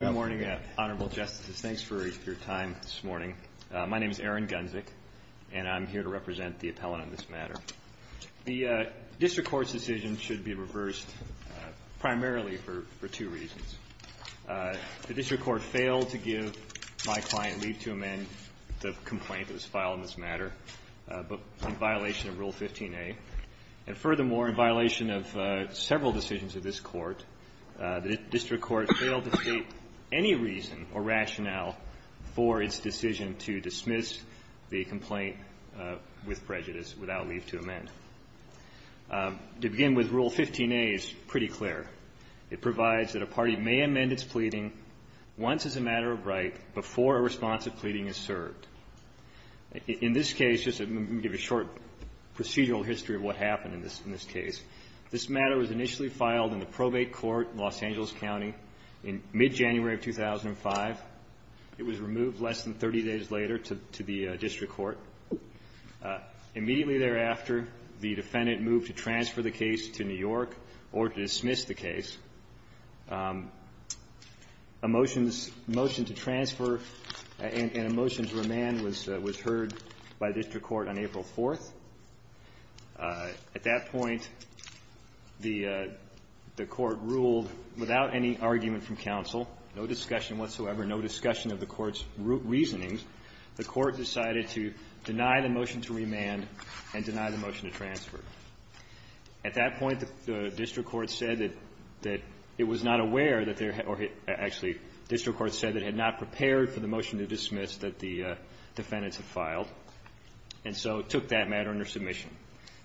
Good morning, Honorable Justices. Thanks for your time this morning. My name is Aaron Gunzick, and I'm here to represent the appellant in this matter. The district court's decision should be reversed primarily for two reasons. The district court failed to give my client leave to amend the complaint that was filed in this matter in violation of Rule 15a. And furthermore, in violation of several decisions of this Court, the district court failed to state any reason or rationale for its decision to dismiss the complaint with prejudice without leave to amend. To begin with, Rule 15a is pretty clear. It provides that a party may amend its pleading once as a matter of right before a response of pleading is served. In this case, just let me give a short procedural history of what happened in this case. This matter was initially filed in the probate court in Los Angeles County in mid-January of 2005. It was removed less than 30 days later to the district court. Immediately thereafter, the defendant moved to transfer the case to New York or to dismiss the case. A motion to transfer and a motion to remand was heard by the district court on April 4th. At that point, the court ruled without any argument from counsel, no discussion whatsoever, no discussion of the court's reasonings. The court decided to deny the motion to remand and deny the motion to transfer. At that point, the district court said that it was not aware that there had or actually, the district court said that it had not prepared for the motion to dismiss that the defendants had filed, and so it took that matter under submission.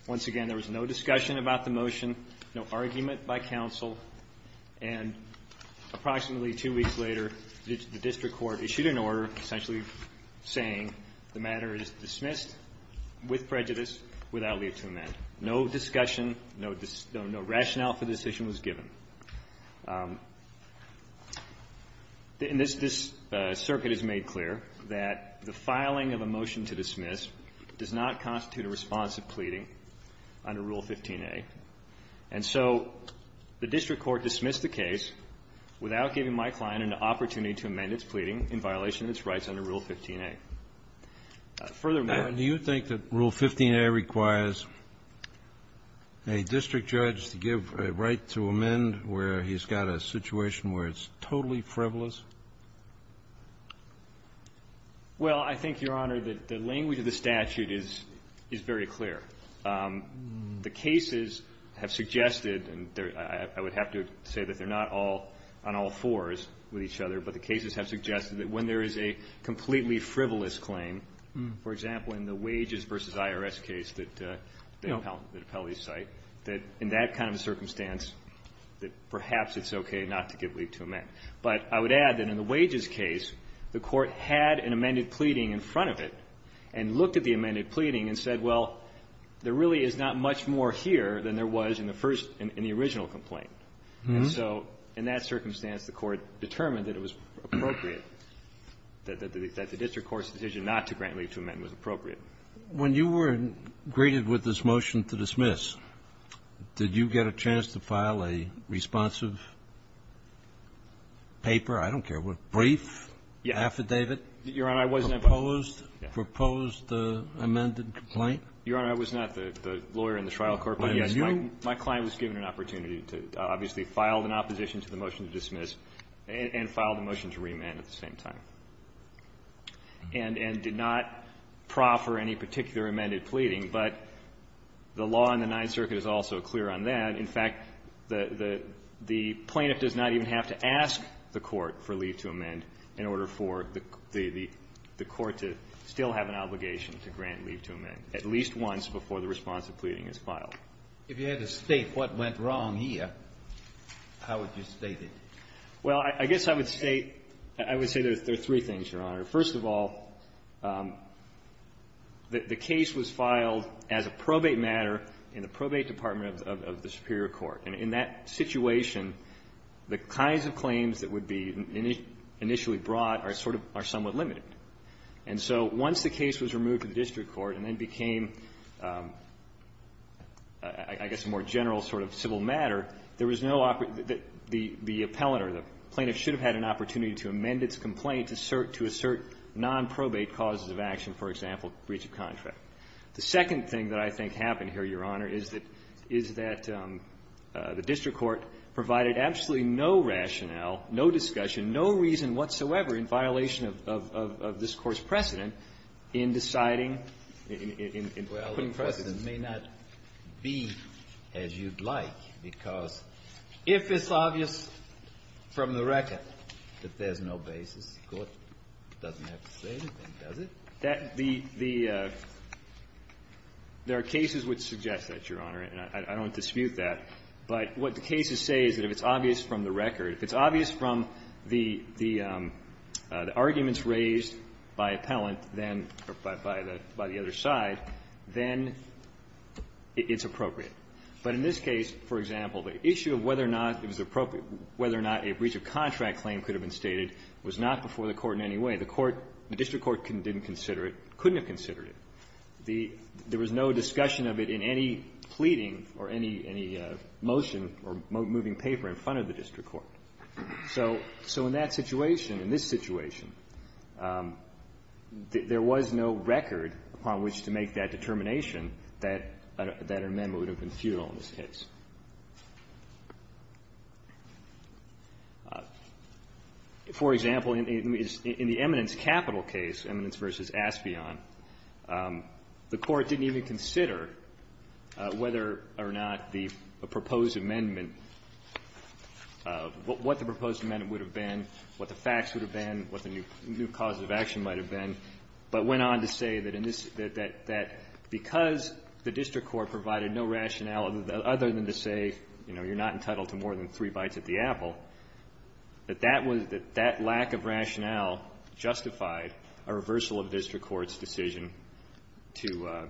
Once again, there was no discussion about the motion, no argument by counsel, and approximately two weeks later, the district court issued an order essentially saying the matter is dismissed with prejudice without leave to amend. No discussion, no rationale for the decision was given. This circuit has made clear that the filing of a motion to dismiss does not constitute a response of pleading under Rule 15a. And so the district court dismissed the case without giving my client an opportunity to amend its pleading in violation of its rights under Rule 15a. Furthermore --" Kennedy, do you think that Rule 15a requires a district judge to give a right to amend where he's got a situation where it's totally frivolous? Well, I think, Your Honor, that the language of the statute is very clear. The cases have suggested, and I would have to say that they're not all on all fours with each other, but the cases have suggested that when there is a completely frivolous claim, for example, in the wages versus IRS case that the appellees cite, that in that kind of circumstance that perhaps it's okay not to give leave to amend. But I would add that in the wages case, the Court had an amended pleading in front of it and looked at the amended pleading and said, well, there really is not much more here than there was in the first and the original complaint. And so in that circumstance, the Court determined that it was appropriate, that the district court's decision not to grant leave to amend was appropriate. When you were greeted with this motion to dismiss, did you get a chance to file a responsive paper, I don't care what, brief, affidavit? Your Honor, I wasn't able to. Proposed the amended complaint? Your Honor, I was not the lawyer in the trial court, but, yes, my client was given an opportunity to obviously file an opposition to the motion to dismiss and file the motion to remand at the same time. And did not proffer any particular amended pleading, but the law in the Ninth Circuit is also clear on that. In fact, the plaintiff does not even have to ask the Court for leave to amend in order for the Court to still have an obligation to grant leave to amend, at least once before the responsive pleading is filed. If you had to state what went wrong here, how would you state it? Well, I guess I would state — I would say there are three things, Your Honor. First of all, the case was filed as a probate matter in the probate department of the superior court. And in that situation, the kinds of claims that would be initially brought are sort of — are somewhat limited. And so once the case was removed to the district court and then became, I guess, a more general sort of civil matter, there was no — the appellant or the plaintiff should have had an opportunity to amend its complaint to assert nonprobate causes of action, for example, breach of contract. The second thing that I think happened here, Your Honor, is that — is that the district court provided absolutely no rationale, no discussion, no reason whatsoever in violation of this Court's precedent in deciding — in putting precedent. Well, the precedent may not be as you'd like, because if it's obvious from the record that there's no basis, the Court doesn't have to say anything, does it? That — the — there are cases which suggest that, Your Honor, and I don't dispute that. But what the cases say is that if it's obvious from the record, if it's obvious from the arguments raised by appellant, then — by the other side, then it's appropriate. But in this case, for example, the issue of whether or not it was appropriate — whether or not a breach of contract claim could have been stated was not before the Court in any way. The court — the district court didn't consider it, couldn't have considered it. The — there was no discussion of it in any pleading or any — any motion or moving paper in front of the district court. So — so in that situation, in this situation, there was no record upon which to make that determination that an amendment would have been futile in this case. For example, in the — in the eminence capital case, eminence v. Aspion, the Court didn't even consider whether or not the proposed amendment — what the proposed amendment would have been, what the facts would have been, what the new cause of action might have been, but went on to say that in this — that — that because the district court provided no rationale other than to say, you know, you're not entitled to more than three bites at the apple, that that was — that that lack of rationale justified a reversal of district court's decision to —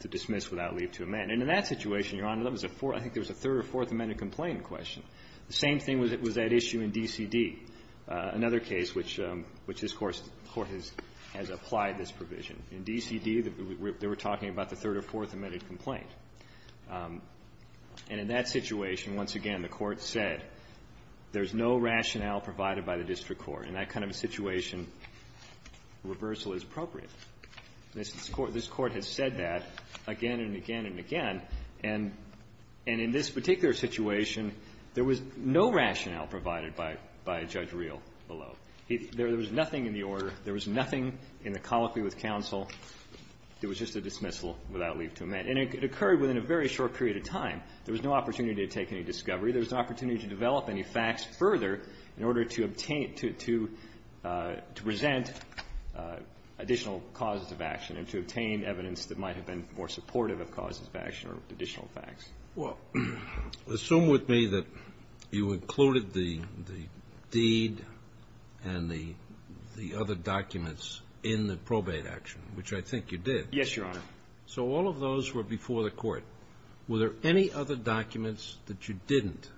to dismiss without leave to amend. And in that situation, Your Honor, there was a — I think there was a third or fourth amendment complaint in question. The same thing was at issue in D.C.D., another case which — which this Court has applied this provision. In D.C.D., they were talking about the third or fourth amended complaint. And in that situation, once again, the Court said there's no rationale provided by the district court. In that kind of a situation, reversal is appropriate. This Court — this Court has said that again and again and again. And — and in this particular situation, there was no rationale provided by — by Judge Reel below. There was nothing in the order. There was nothing in the colloquy with counsel. It was just a dismissal without leave to amend. And it occurred within a very short period of time. There was no opportunity to take any discovery. There was no opportunity to develop any facts further in order to obtain — to — to present additional causes of action and to obtain evidence that might have been more supportive of causes of action or additional facts. Well, assume with me that you included the — the deed and the — the other documents in the probate action, which I think you did. Yes, Your Honor. So all of those were before the Court. Were there any other documents that you didn't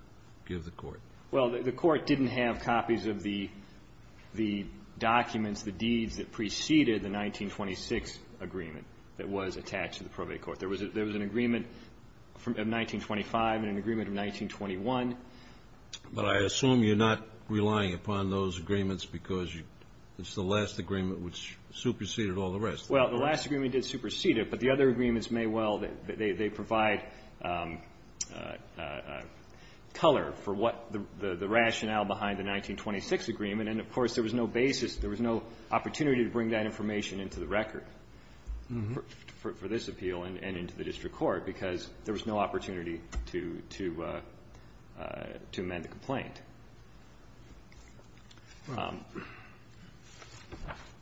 give the Court? Well, the Court didn't have copies of the — the documents, the deeds that preceded the 1926 agreement that was attached to the probate court. There was a — there was an agreement from — of 1925 and an agreement of 1921. But I assume you're not relying upon those agreements because you — it's the last agreement which superseded all the rest, correct? Well, the last agreement did supersede it, but the other agreements may well — they provide color for what the — the rationale behind the 1926 agreement. And, of course, there was no basis — there was no opportunity to bring that information into the record for — for this appeal. And — and into the district court because there was no opportunity to — to — to amend the complaint.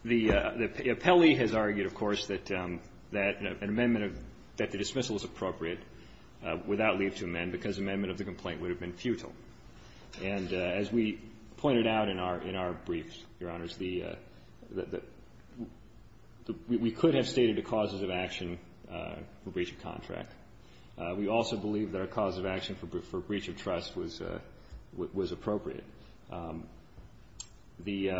The — the appellee has argued, of course, that — that an amendment of — that the dismissal is appropriate without leave to amend because amendment of the complaint would have been futile. And as we pointed out in our — in our briefs, Your Honors, the — the — we could have stated the causes of action for breach of contract. We also believe that a cause of action for breach of trust was — was appropriate. The —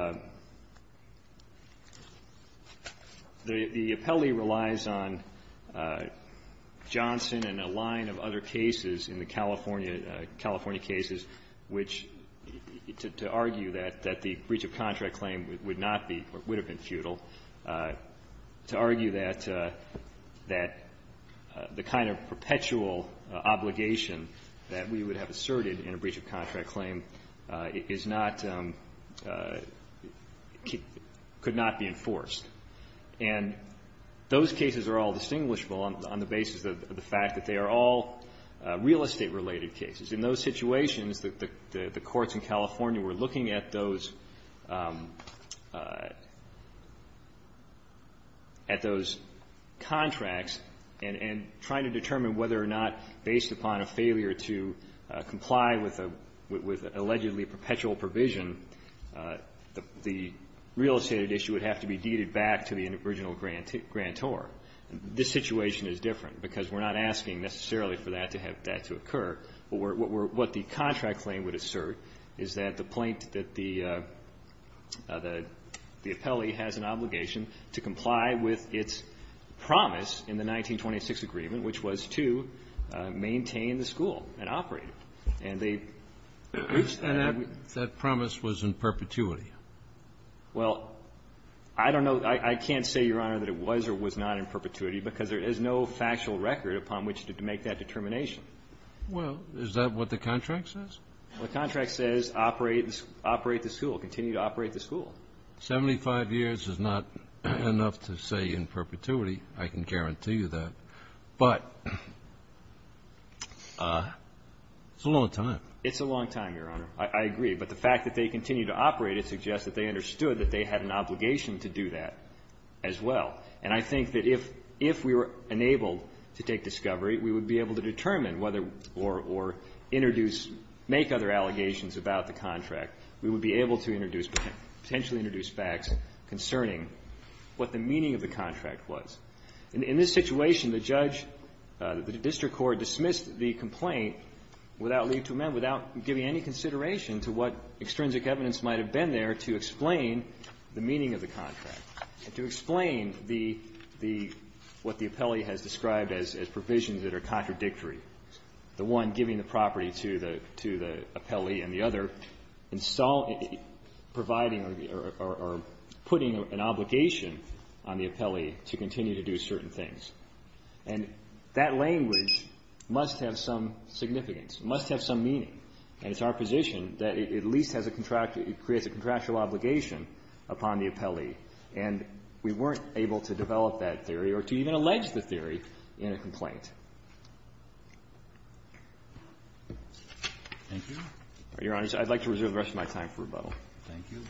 the appellee relies on Johnson and a line of other cases in the California — California cases which, to argue that the breach of contract claim would not be or would have been futile, to argue that — that the kind of perpetual obligation that we would have asserted in a breach of contract claim is not — could not be enforced. And those cases are all distinguishable on the basis of the fact that they are all real estate-related cases. In those situations, the — the courts in California were looking at those — at those contracts and — and trying to determine whether or not, based upon a failure to comply with a — with allegedly perpetual provision, the real estate issue would have to be deeded back to the original grantor. This situation is different because we're not asking necessarily for that to have — that what we're — what the contract claim would assert is that the — that the appellee has an obligation to comply with its promise in the 1926 agreement, which was to maintain the school and operate it. And they breached that. And that — that promise was in perpetuity. Well, I don't know. I can't say, Your Honor, that it was or was not in perpetuity because there is no factual record upon which to make that determination. Well, is that what the contract says? Well, the contract says operate the — operate the school, continue to operate the school. Seventy-five years is not enough to say in perpetuity. I can guarantee you that. But it's a long time. It's a long time, Your Honor. I agree. But the fact that they continue to operate it suggests that they understood that they had an obligation to do that as well. And I think that if — if we were enabled to take discovery, we would be able to determine whether or — or introduce — make other allegations about the contract. We would be able to introduce — potentially introduce facts concerning what the meaning of the contract was. In this situation, the judge, the district court, dismissed the complaint without leave to amend, without giving any consideration to what extrinsic evidence might have been there to explain the meaning of the contract, to explain the — the — what the appellee has described as provisions that are contradictory, the one giving the property to the — to the appellee and the other install — providing or putting an obligation on the appellee to continue to do certain things. And that language must have some significance, must have some meaning. And it's our position that it at least has a contract — it creates a contractual obligation upon the appellee. And we weren't able to develop that theory or to even allege the theory in a complaint. Thank you. Your Honor, I'd like to reserve the rest of my time for rebuttal. Thank you.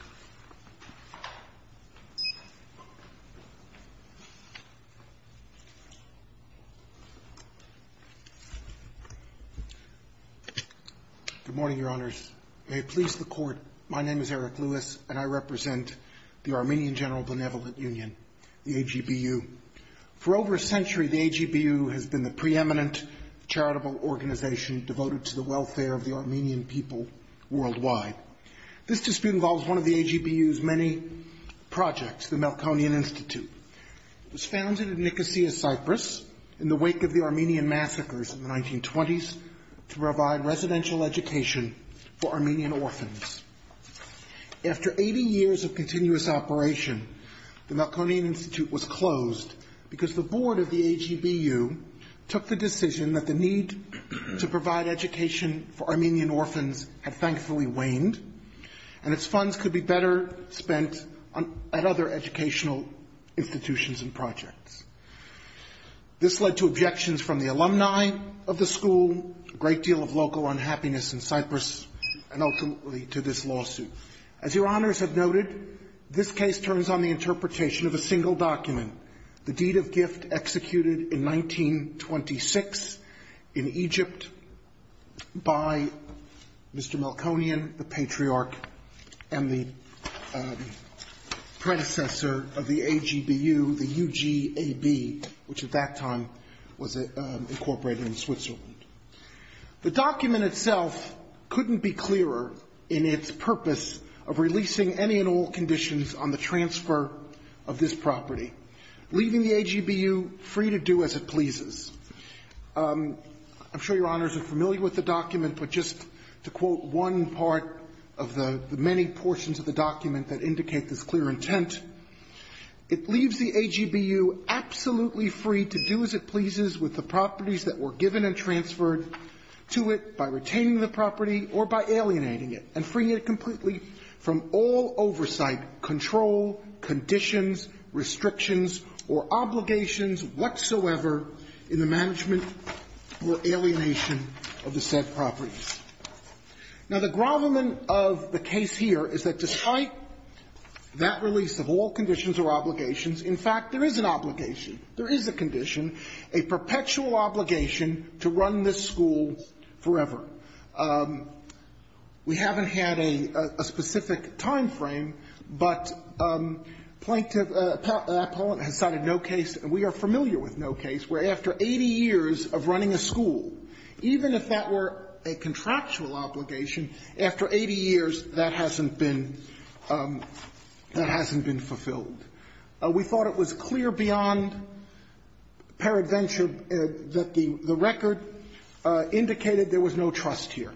Good morning, Your Honors. May it please the Court, my name is Eric Lewis, and I represent the Armenian General Benevolent Union, the AGBU. For over a century, the AGBU has been the preeminent charitable organization devoted to the welfare of the Armenian people worldwide. This dispute involves one of the AGBU's many projects, the Melkonian Institute. It was founded in Nicosia, Cyprus, in the wake of the Armenian massacres in the 1920s to provide residential education for Armenian orphans. After 80 years of continuous operation, the Melkonian Institute was closed because the board of the AGBU took the decision that the need to provide education for Armenian orphans had thankfully waned, and its funds could be better spent at other educational institutions and projects. This led to objections from the alumni of the school, a great deal of local unhappiness in Cyprus, and ultimately to this lawsuit. As Your Honors have noted, this case turns on the interpretation of a single document, the deed of gift executed in 1926 in Egypt by Mr. Melkonian, the patriarch, and the predecessor of the AGBU, the UGAB, which at that time was incorporated in Switzerland. The document itself couldn't be clearer in its purpose of releasing any and all conditions on the transfer of this property, leaving the AGBU free to do as it pleases. I'm sure Your Honors are familiar with the document, but just to quote one part of the many portions of the document that indicate this clear intent, it leaves the AGBU absolutely free to do as it pleases with the properties that were given and transferred to it by retaining the property or by alienating it, and freeing it completely from all oversight, control, conditions, restrictions, or obligations whatsoever in the management or alienation of the said properties. Now, the grovelment of the case here is that despite that release of all conditions or obligations, in fact, there is an obligation, there is a condition, a perpetual obligation to run this school forever. We haven't had a specific time frame, but Plaintiff, that appellant has cited no case, and we are familiar with no case, where after 80 years of running a school, even if that were a contractual obligation, after 80 years, that hasn't been fulfilled. We thought it was clear beyond paradventure that the record indicated there was no transfer of trust here.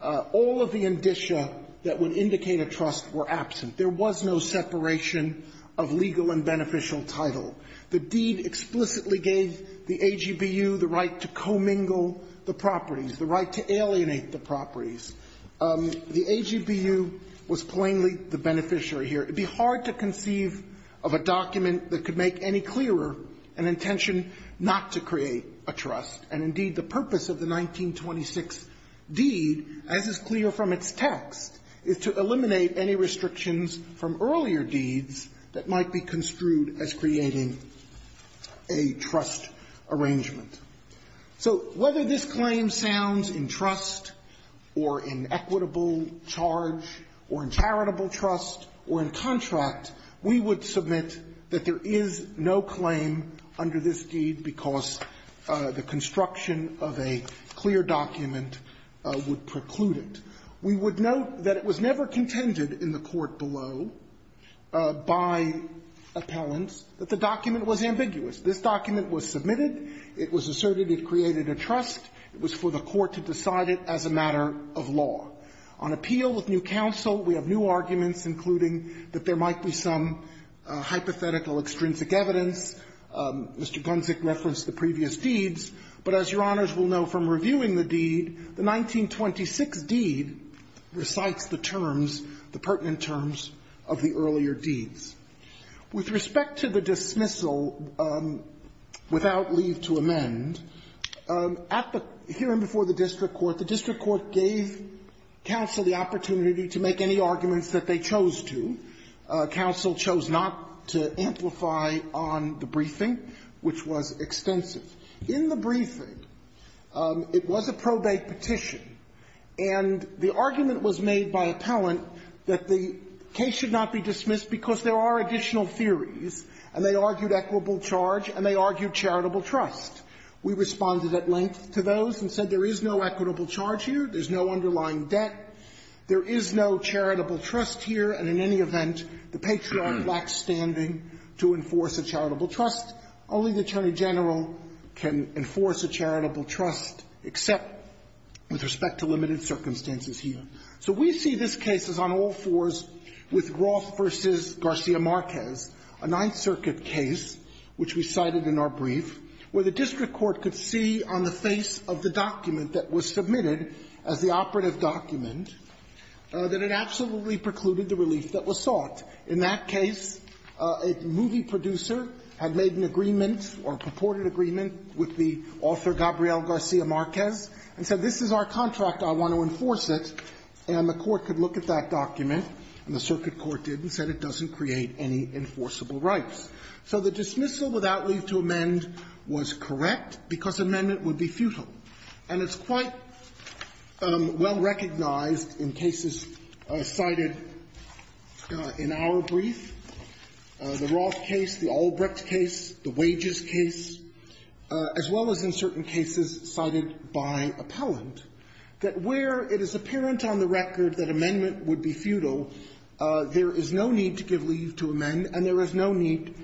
All of the indicia that would indicate a trust were absent. There was no separation of legal and beneficial title. The deed explicitly gave the AGBU the right to commingle the properties, the right to alienate the properties. The AGBU was plainly the beneficiary here. It would be hard to conceive of a document that could make any clearer an intention not to create a trust. And indeed, the purpose of the 1926 deed, as is clear from its text, is to eliminate any restrictions from earlier deeds that might be construed as creating a trust arrangement. So whether this claim sounds in trust or in equitable charge or in charitable trust or in contract, we would submit that there is no claim under this deed because the construction of a clear document would preclude it. We would note that it was never contended in the court below by appellants that the document was ambiguous. This document was submitted. It was asserted it created a trust. It was for the court to decide it as a matter of law. On appeal with new counsel, we have new arguments including that there might be some hypothetical extrinsic evidence. Mr. Gunzick referenced the previous deeds. But as Your Honors will know from reviewing the deed, the 1926 deed recites the terms, the pertinent terms of the earlier deeds. With respect to the dismissal without leave to amend, at the hearing before the district court, the district court gave counsel the opportunity to make any arguments that they chose to. Counsel chose not to amplify on the briefing, which was extensive. In the briefing, it was a probate petition, and the argument was made by appellant that the case should not be dismissed because there are additional theories, and they argued equitable charge and they argued charitable trust. We responded at length to those and said there is no equitable charge here, there's no underlying debt, there is no charitable trust here, and in any event, the Patriot lacks standing to enforce a charitable trust. Only the Attorney General can enforce a charitable trust except with respect to limited circumstances here. So we see this case as on all fours with Roth v. Garcia Marquez, a Ninth Circuit case which we cited in our brief, where the district court could see on the face of the document that was submitted as the operative document that it absolutely precluded the relief that was sought. In that case, a movie producer had made an agreement or purported agreement with the author, Gabriel Garcia Marquez, and said this is our contract, I want to enforce it, and the court could look at that document, and the circuit court did, and said it doesn't create any enforceable rights. So the dismissal without leave to amend was correct because amendment would be futile. And it's quite well recognized in cases cited in our brief, the Roth case, the Albrecht case, the Wages case, as well as in certain cases cited by appellant, that where it is apparent on the record that amendment would be futile, there is no reason to think that the need to give leave to amend, and there is no need,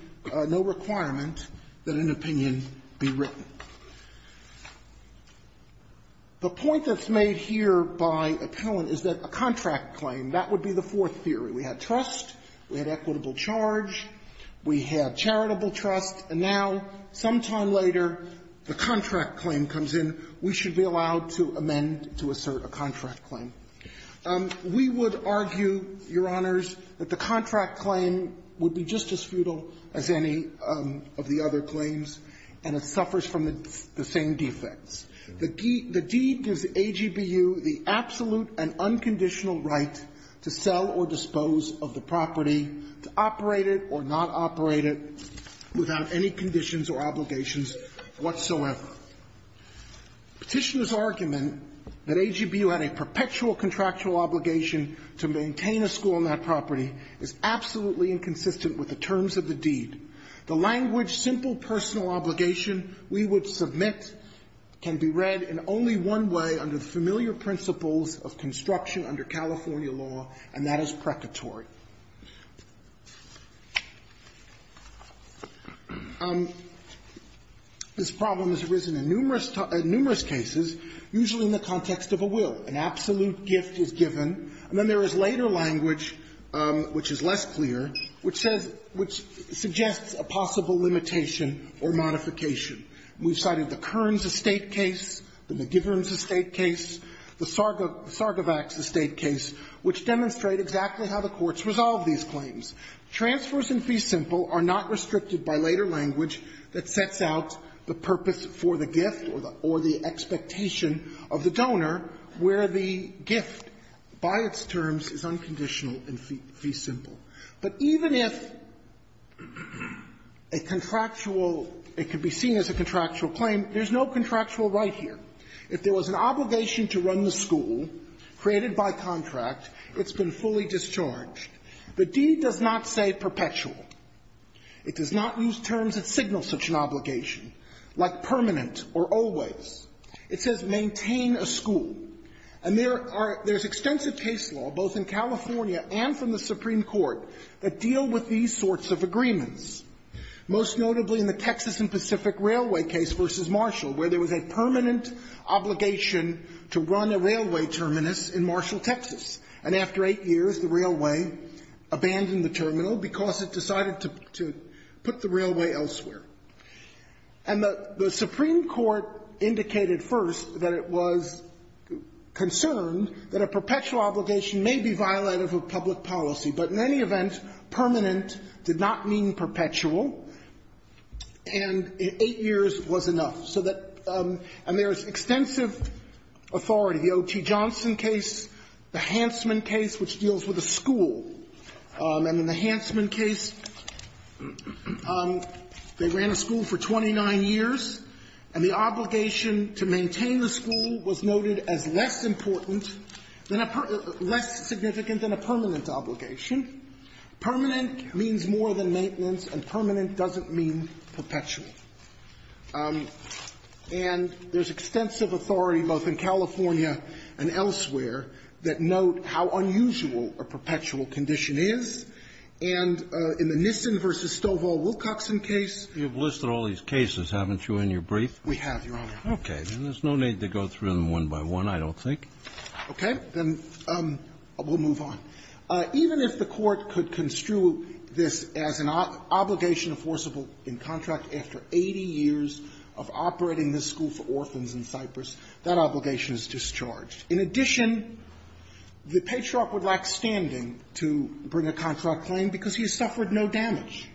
no requirement that an opinion be written. The point that's made here by appellant is that a contract claim, that would be the fourth theory. We had trust, we had equitable charge, we had charitable trust, and now, sometime later, the contract claim comes in. We should be allowed to amend to assert a contract claim. We would argue, Your Honors, that the contract claim would be just as futile as any of the other claims, and it suffers from the same defects. The deed gives AGBU the absolute and unconditional right to sell or dispose of the property, to operate it or not operate it, without any conditions or obligations whatsoever. Petitioner's argument that AGBU had a perpetual contractual obligation to maintain a school on that property is absolutely inconsistent with the terms of the deed. The language, simple personal obligation we would submit can be read in only one way under the familiar principles of construction under California law, and that is precatory. This problem has arisen in numerous cases, usually in the context of a will, an absolute gift is given, and then there is later language, which is less clear, which says – which suggests a possible limitation or modification. We've cited the Kearns estate case, the McGiverns estate case, the Sargovacs estate case, which demonstrate exactly how the courts resolve these claims. Transfers in fee simple are not restricted by later language that sets out the purpose for the gift or the expectation of the donor where the gift, by its terms, is unconditional in fee simple. But even if a contractual – it could be seen as a contractual claim, there's no contractual right here. If there was an obligation to run the school created by contract, it's been fully discharged. The deed does not say perpetual. It does not use terms that signal such an obligation, like permanent or always. It says maintain a school. And there are – there's extensive case law, both in California and from the Supreme Court, that deal with these sorts of agreements, most notably in the Texas and Pacific Railway case v. Marshall, where there was a permanent obligation to run a railway terminus in Marshall, Texas. And after eight years, the railway abandoned the terminal because it decided to put the railway elsewhere. And the Supreme Court indicated first that it was concerned that a perpetual obligation may be violative of public policy. But in any event, permanent did not mean perpetual, and eight years was enough. So that – and there is extensive authority. The O.T. Johnson case, the Hanson case, the Hanson case, the Hansman case, which deals with a school, and in the Hansman case, they ran a school for 29 years, and the obligation to maintain the school was noted as less important than a – less significant than a permanent obligation. Permanent means more than maintenance, and permanent doesn't mean perpetual. And there's extensive authority, both in California and elsewhere, that note how unusual a perpetual condition is. And in the Nissen v. Stovall Wilcoxon case… Kennedy, you've listed all these cases, haven't you, in your brief? We have, Your Honor. Okay. Then there's no need to go through them one by one, I don't think. Okay. Then we'll move on. Even if the Court could construe this as an obligation enforceable in contract after 80 years of operating this school for orphans in Cyprus, that obligation is discharged. In addition, the patriarch would lack standing to bring a contract claim because he has suffered no damage.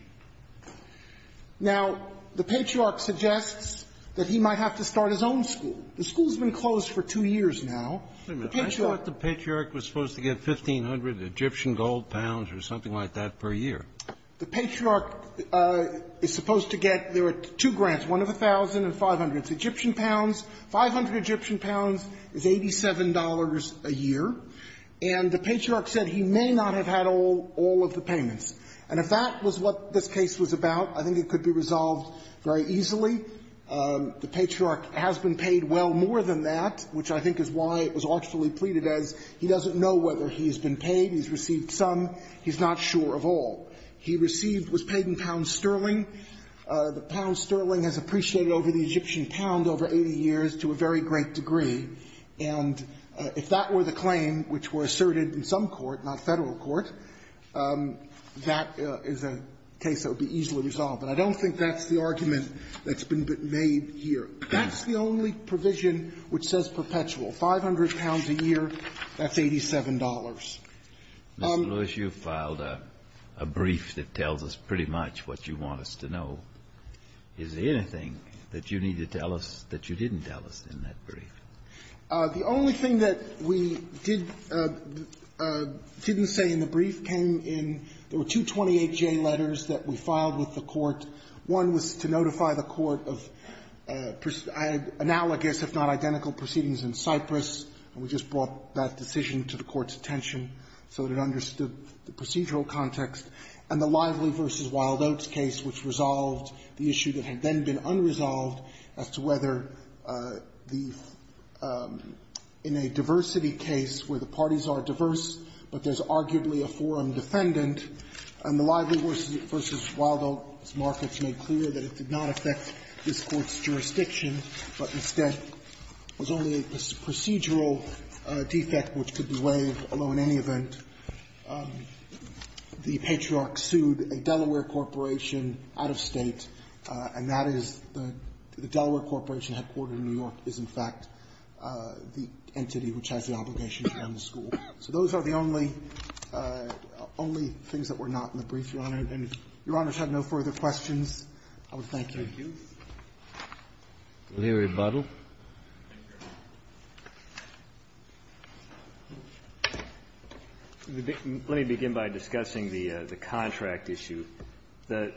Now, the patriarch suggests that he might have to start his own school. The school's been closed for two years now. The patriarch… Wait a minute. I thought the patriarch was supposed to get 1,500 Egyptian gold pounds or something like that per year. The patriarch is supposed to get – there are two grants, one of 1,000 and 500. It's Egyptian pounds. 500 Egyptian pounds is $87 a year. And the patriarch said he may not have had all of the payments. And if that was what this case was about, I think it could be resolved very easily. The patriarch has been paid well more than that, which I think is why it was artfully pleaded as he doesn't know whether he's been paid, he's received some, he's not sure of all. He received – was paid in pounds sterling. The pounds sterling has appreciated over the Egyptian pound over 80 years to a very great degree. And if that were the claim which were asserted in some court, not Federal court, that is a case that would be easily resolved. But I don't think that's the argument that's been made here. That's the only provision which says perpetual. 500 pounds a year, that's $87. Kennedy, you filed a brief that tells us pretty much what you want us to know. Is there anything that you need to tell us that you didn't tell us in that brief? The only thing that we did – didn't say in the brief came in – there were two 28-J letters that we filed with the court. One was to notify the court of analogous, if not identical, proceedings in Cyprus. And we just brought that decision to the court's attention so that it understood the procedural context. And the Lively v. Wildoats case which resolved the issue that had then been unresolved as to whether the – in a diversity case where the parties are diverse, but there's arguably a forum defendant, and the Lively v. Wildoats markets made clear that it did not affect this Court's jurisdiction, but instead was only a procedural case. And that's the only thing that we're not in the brief, Your Honor, and if Your Honor's had no further questions, I would thank you. Thank you. Larry Buddle. Let me begin by discussing the contract issue. The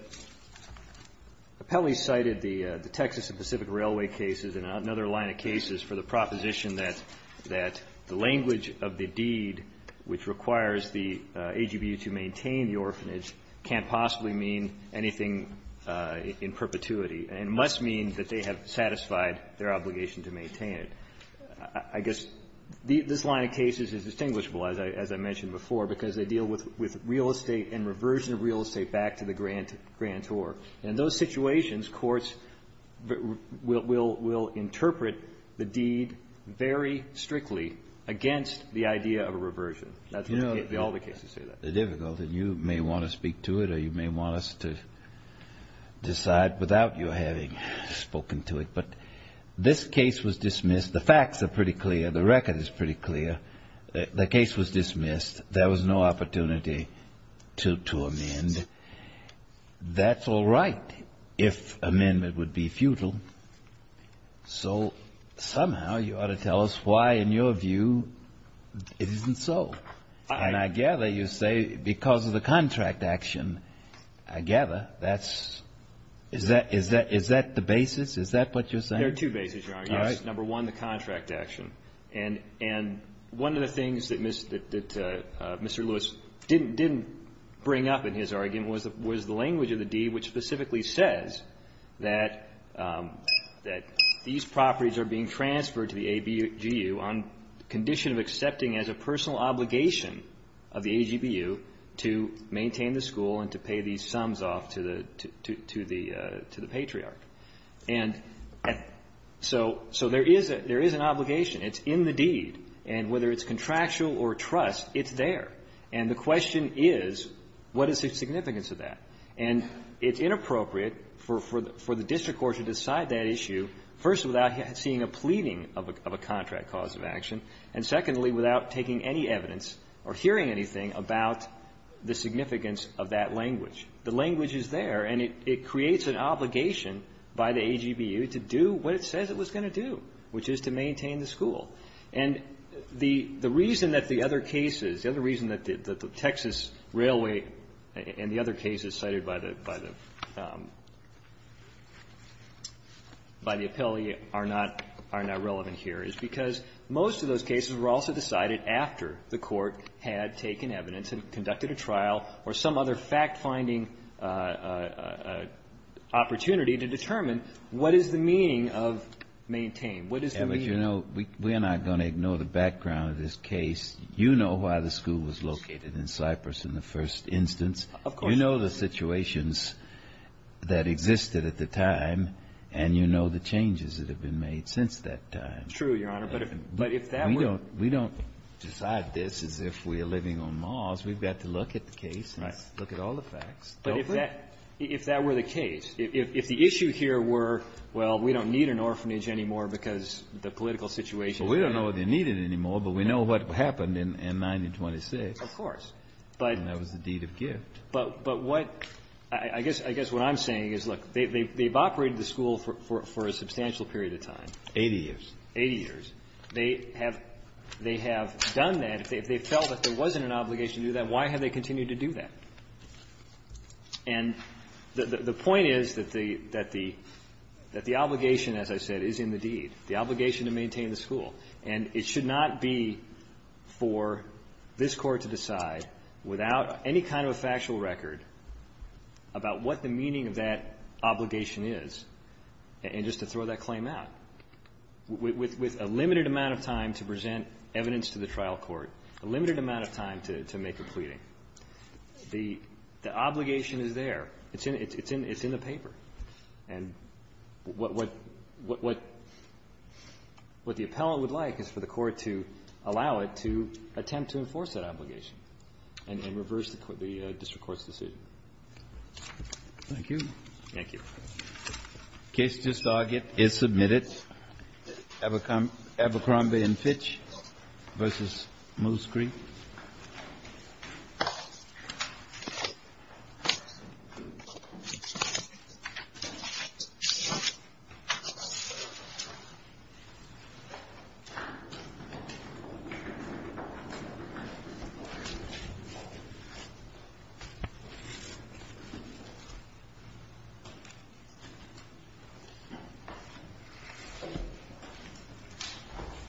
appellee cited the Texas and Pacific Railway cases and another line of cases for the proposition that the language of the deed which requires the AGBU to maintain the orphanage can't possibly mean anything in perpetuity, and it must mean that they have satisfied their obligation to maintain it. I guess this line of cases is distinguishable, as I mentioned before, because they deal with real estate and reversion of real estate back to the grantor. And in those situations, courts will interpret the deed very strictly against the idea of a reversion. That's what all the cases say. The difficulty, you may want to speak to it or you may want us to decide without you having spoken to it, but this case was dismissed. The facts are pretty clear. The record is pretty clear. The case was dismissed. There was no opportunity to amend. That's all right if amendment would be futile. So somehow you ought to tell us why, in your view, it isn't so. And I gather you say because of the contract action. I gather that's — is that the basis? Is that what you're saying? There are two bases, Your Honor. All right. Number one, the contract action. And one of the things that Mr. Lewis didn't bring up in his argument was the language of the deed which specifically says that these properties are being transferred to the AGBU on condition of accepting as a personal obligation of the AGBU to maintain the school and to pay these sums off to the — to the — to the patriarch. And so there is — there is an obligation. It's in the deed. And whether it's contractual or trust, it's there. And the question is, what is the significance of that? And it's inappropriate for the district court to decide that issue first without seeing a pleading of a contract cause of action and, secondly, without taking any evidence or hearing anything about the significance of that language. The language is there, and it creates an obligation by the AGBU to do what it says it was going to do, which is to maintain the school. And the — the reason that the other cases, the other reason that the Texas Railway and the other cases cited by the — by the — by the appellee are not — are not relevant here is because most of those cases were also decided after the court had taken evidence and conducted a trial or some other fact-finding opportunity to determine what is the meaning of maintain, what is the meaning of — Kennedy, you know, we're not going to ignore the background of this case. You know why the school was located in Cyprus in the first instance. Of course. You know the situations that existed at the time, and you know the changes that have been made since that time. True, Your Honor. But if that were — We don't — we don't decide this as if we are living on laws. We've got to look at the case and look at all the facts. But if that — if that were the case, if the issue here were, well, we don't need an orphanage anymore because the political situation — Well, we don't know if they need it anymore, but we know what happened in 1926. Of course. But — And that was the deed of gift. But what — I guess what I'm saying is, look, they've operated the school for a substantial period of time. Eighty years. Eighty years. They have — they have done that. If they felt that there wasn't an obligation to do that, why have they continued to do that? And the point is that the — that the — that the obligation, as I said, is in the deed, the obligation to maintain the school. And it should not be for this Court to decide, without any kind of a factual record, about what the meaning of that obligation is, and just to throw that claim out. With a limited amount of time to present evidence to the trial court, a limited amount of time to make a pleading, the obligation is there. It's in the paper. And what the appellant would like is for the Court to allow it to attempt to enforce that obligation and reverse the district court's decision. Thank you. Thank you. The case just argued is submitted. Abercrombie and Fitch v. Moose Creek. Thank you.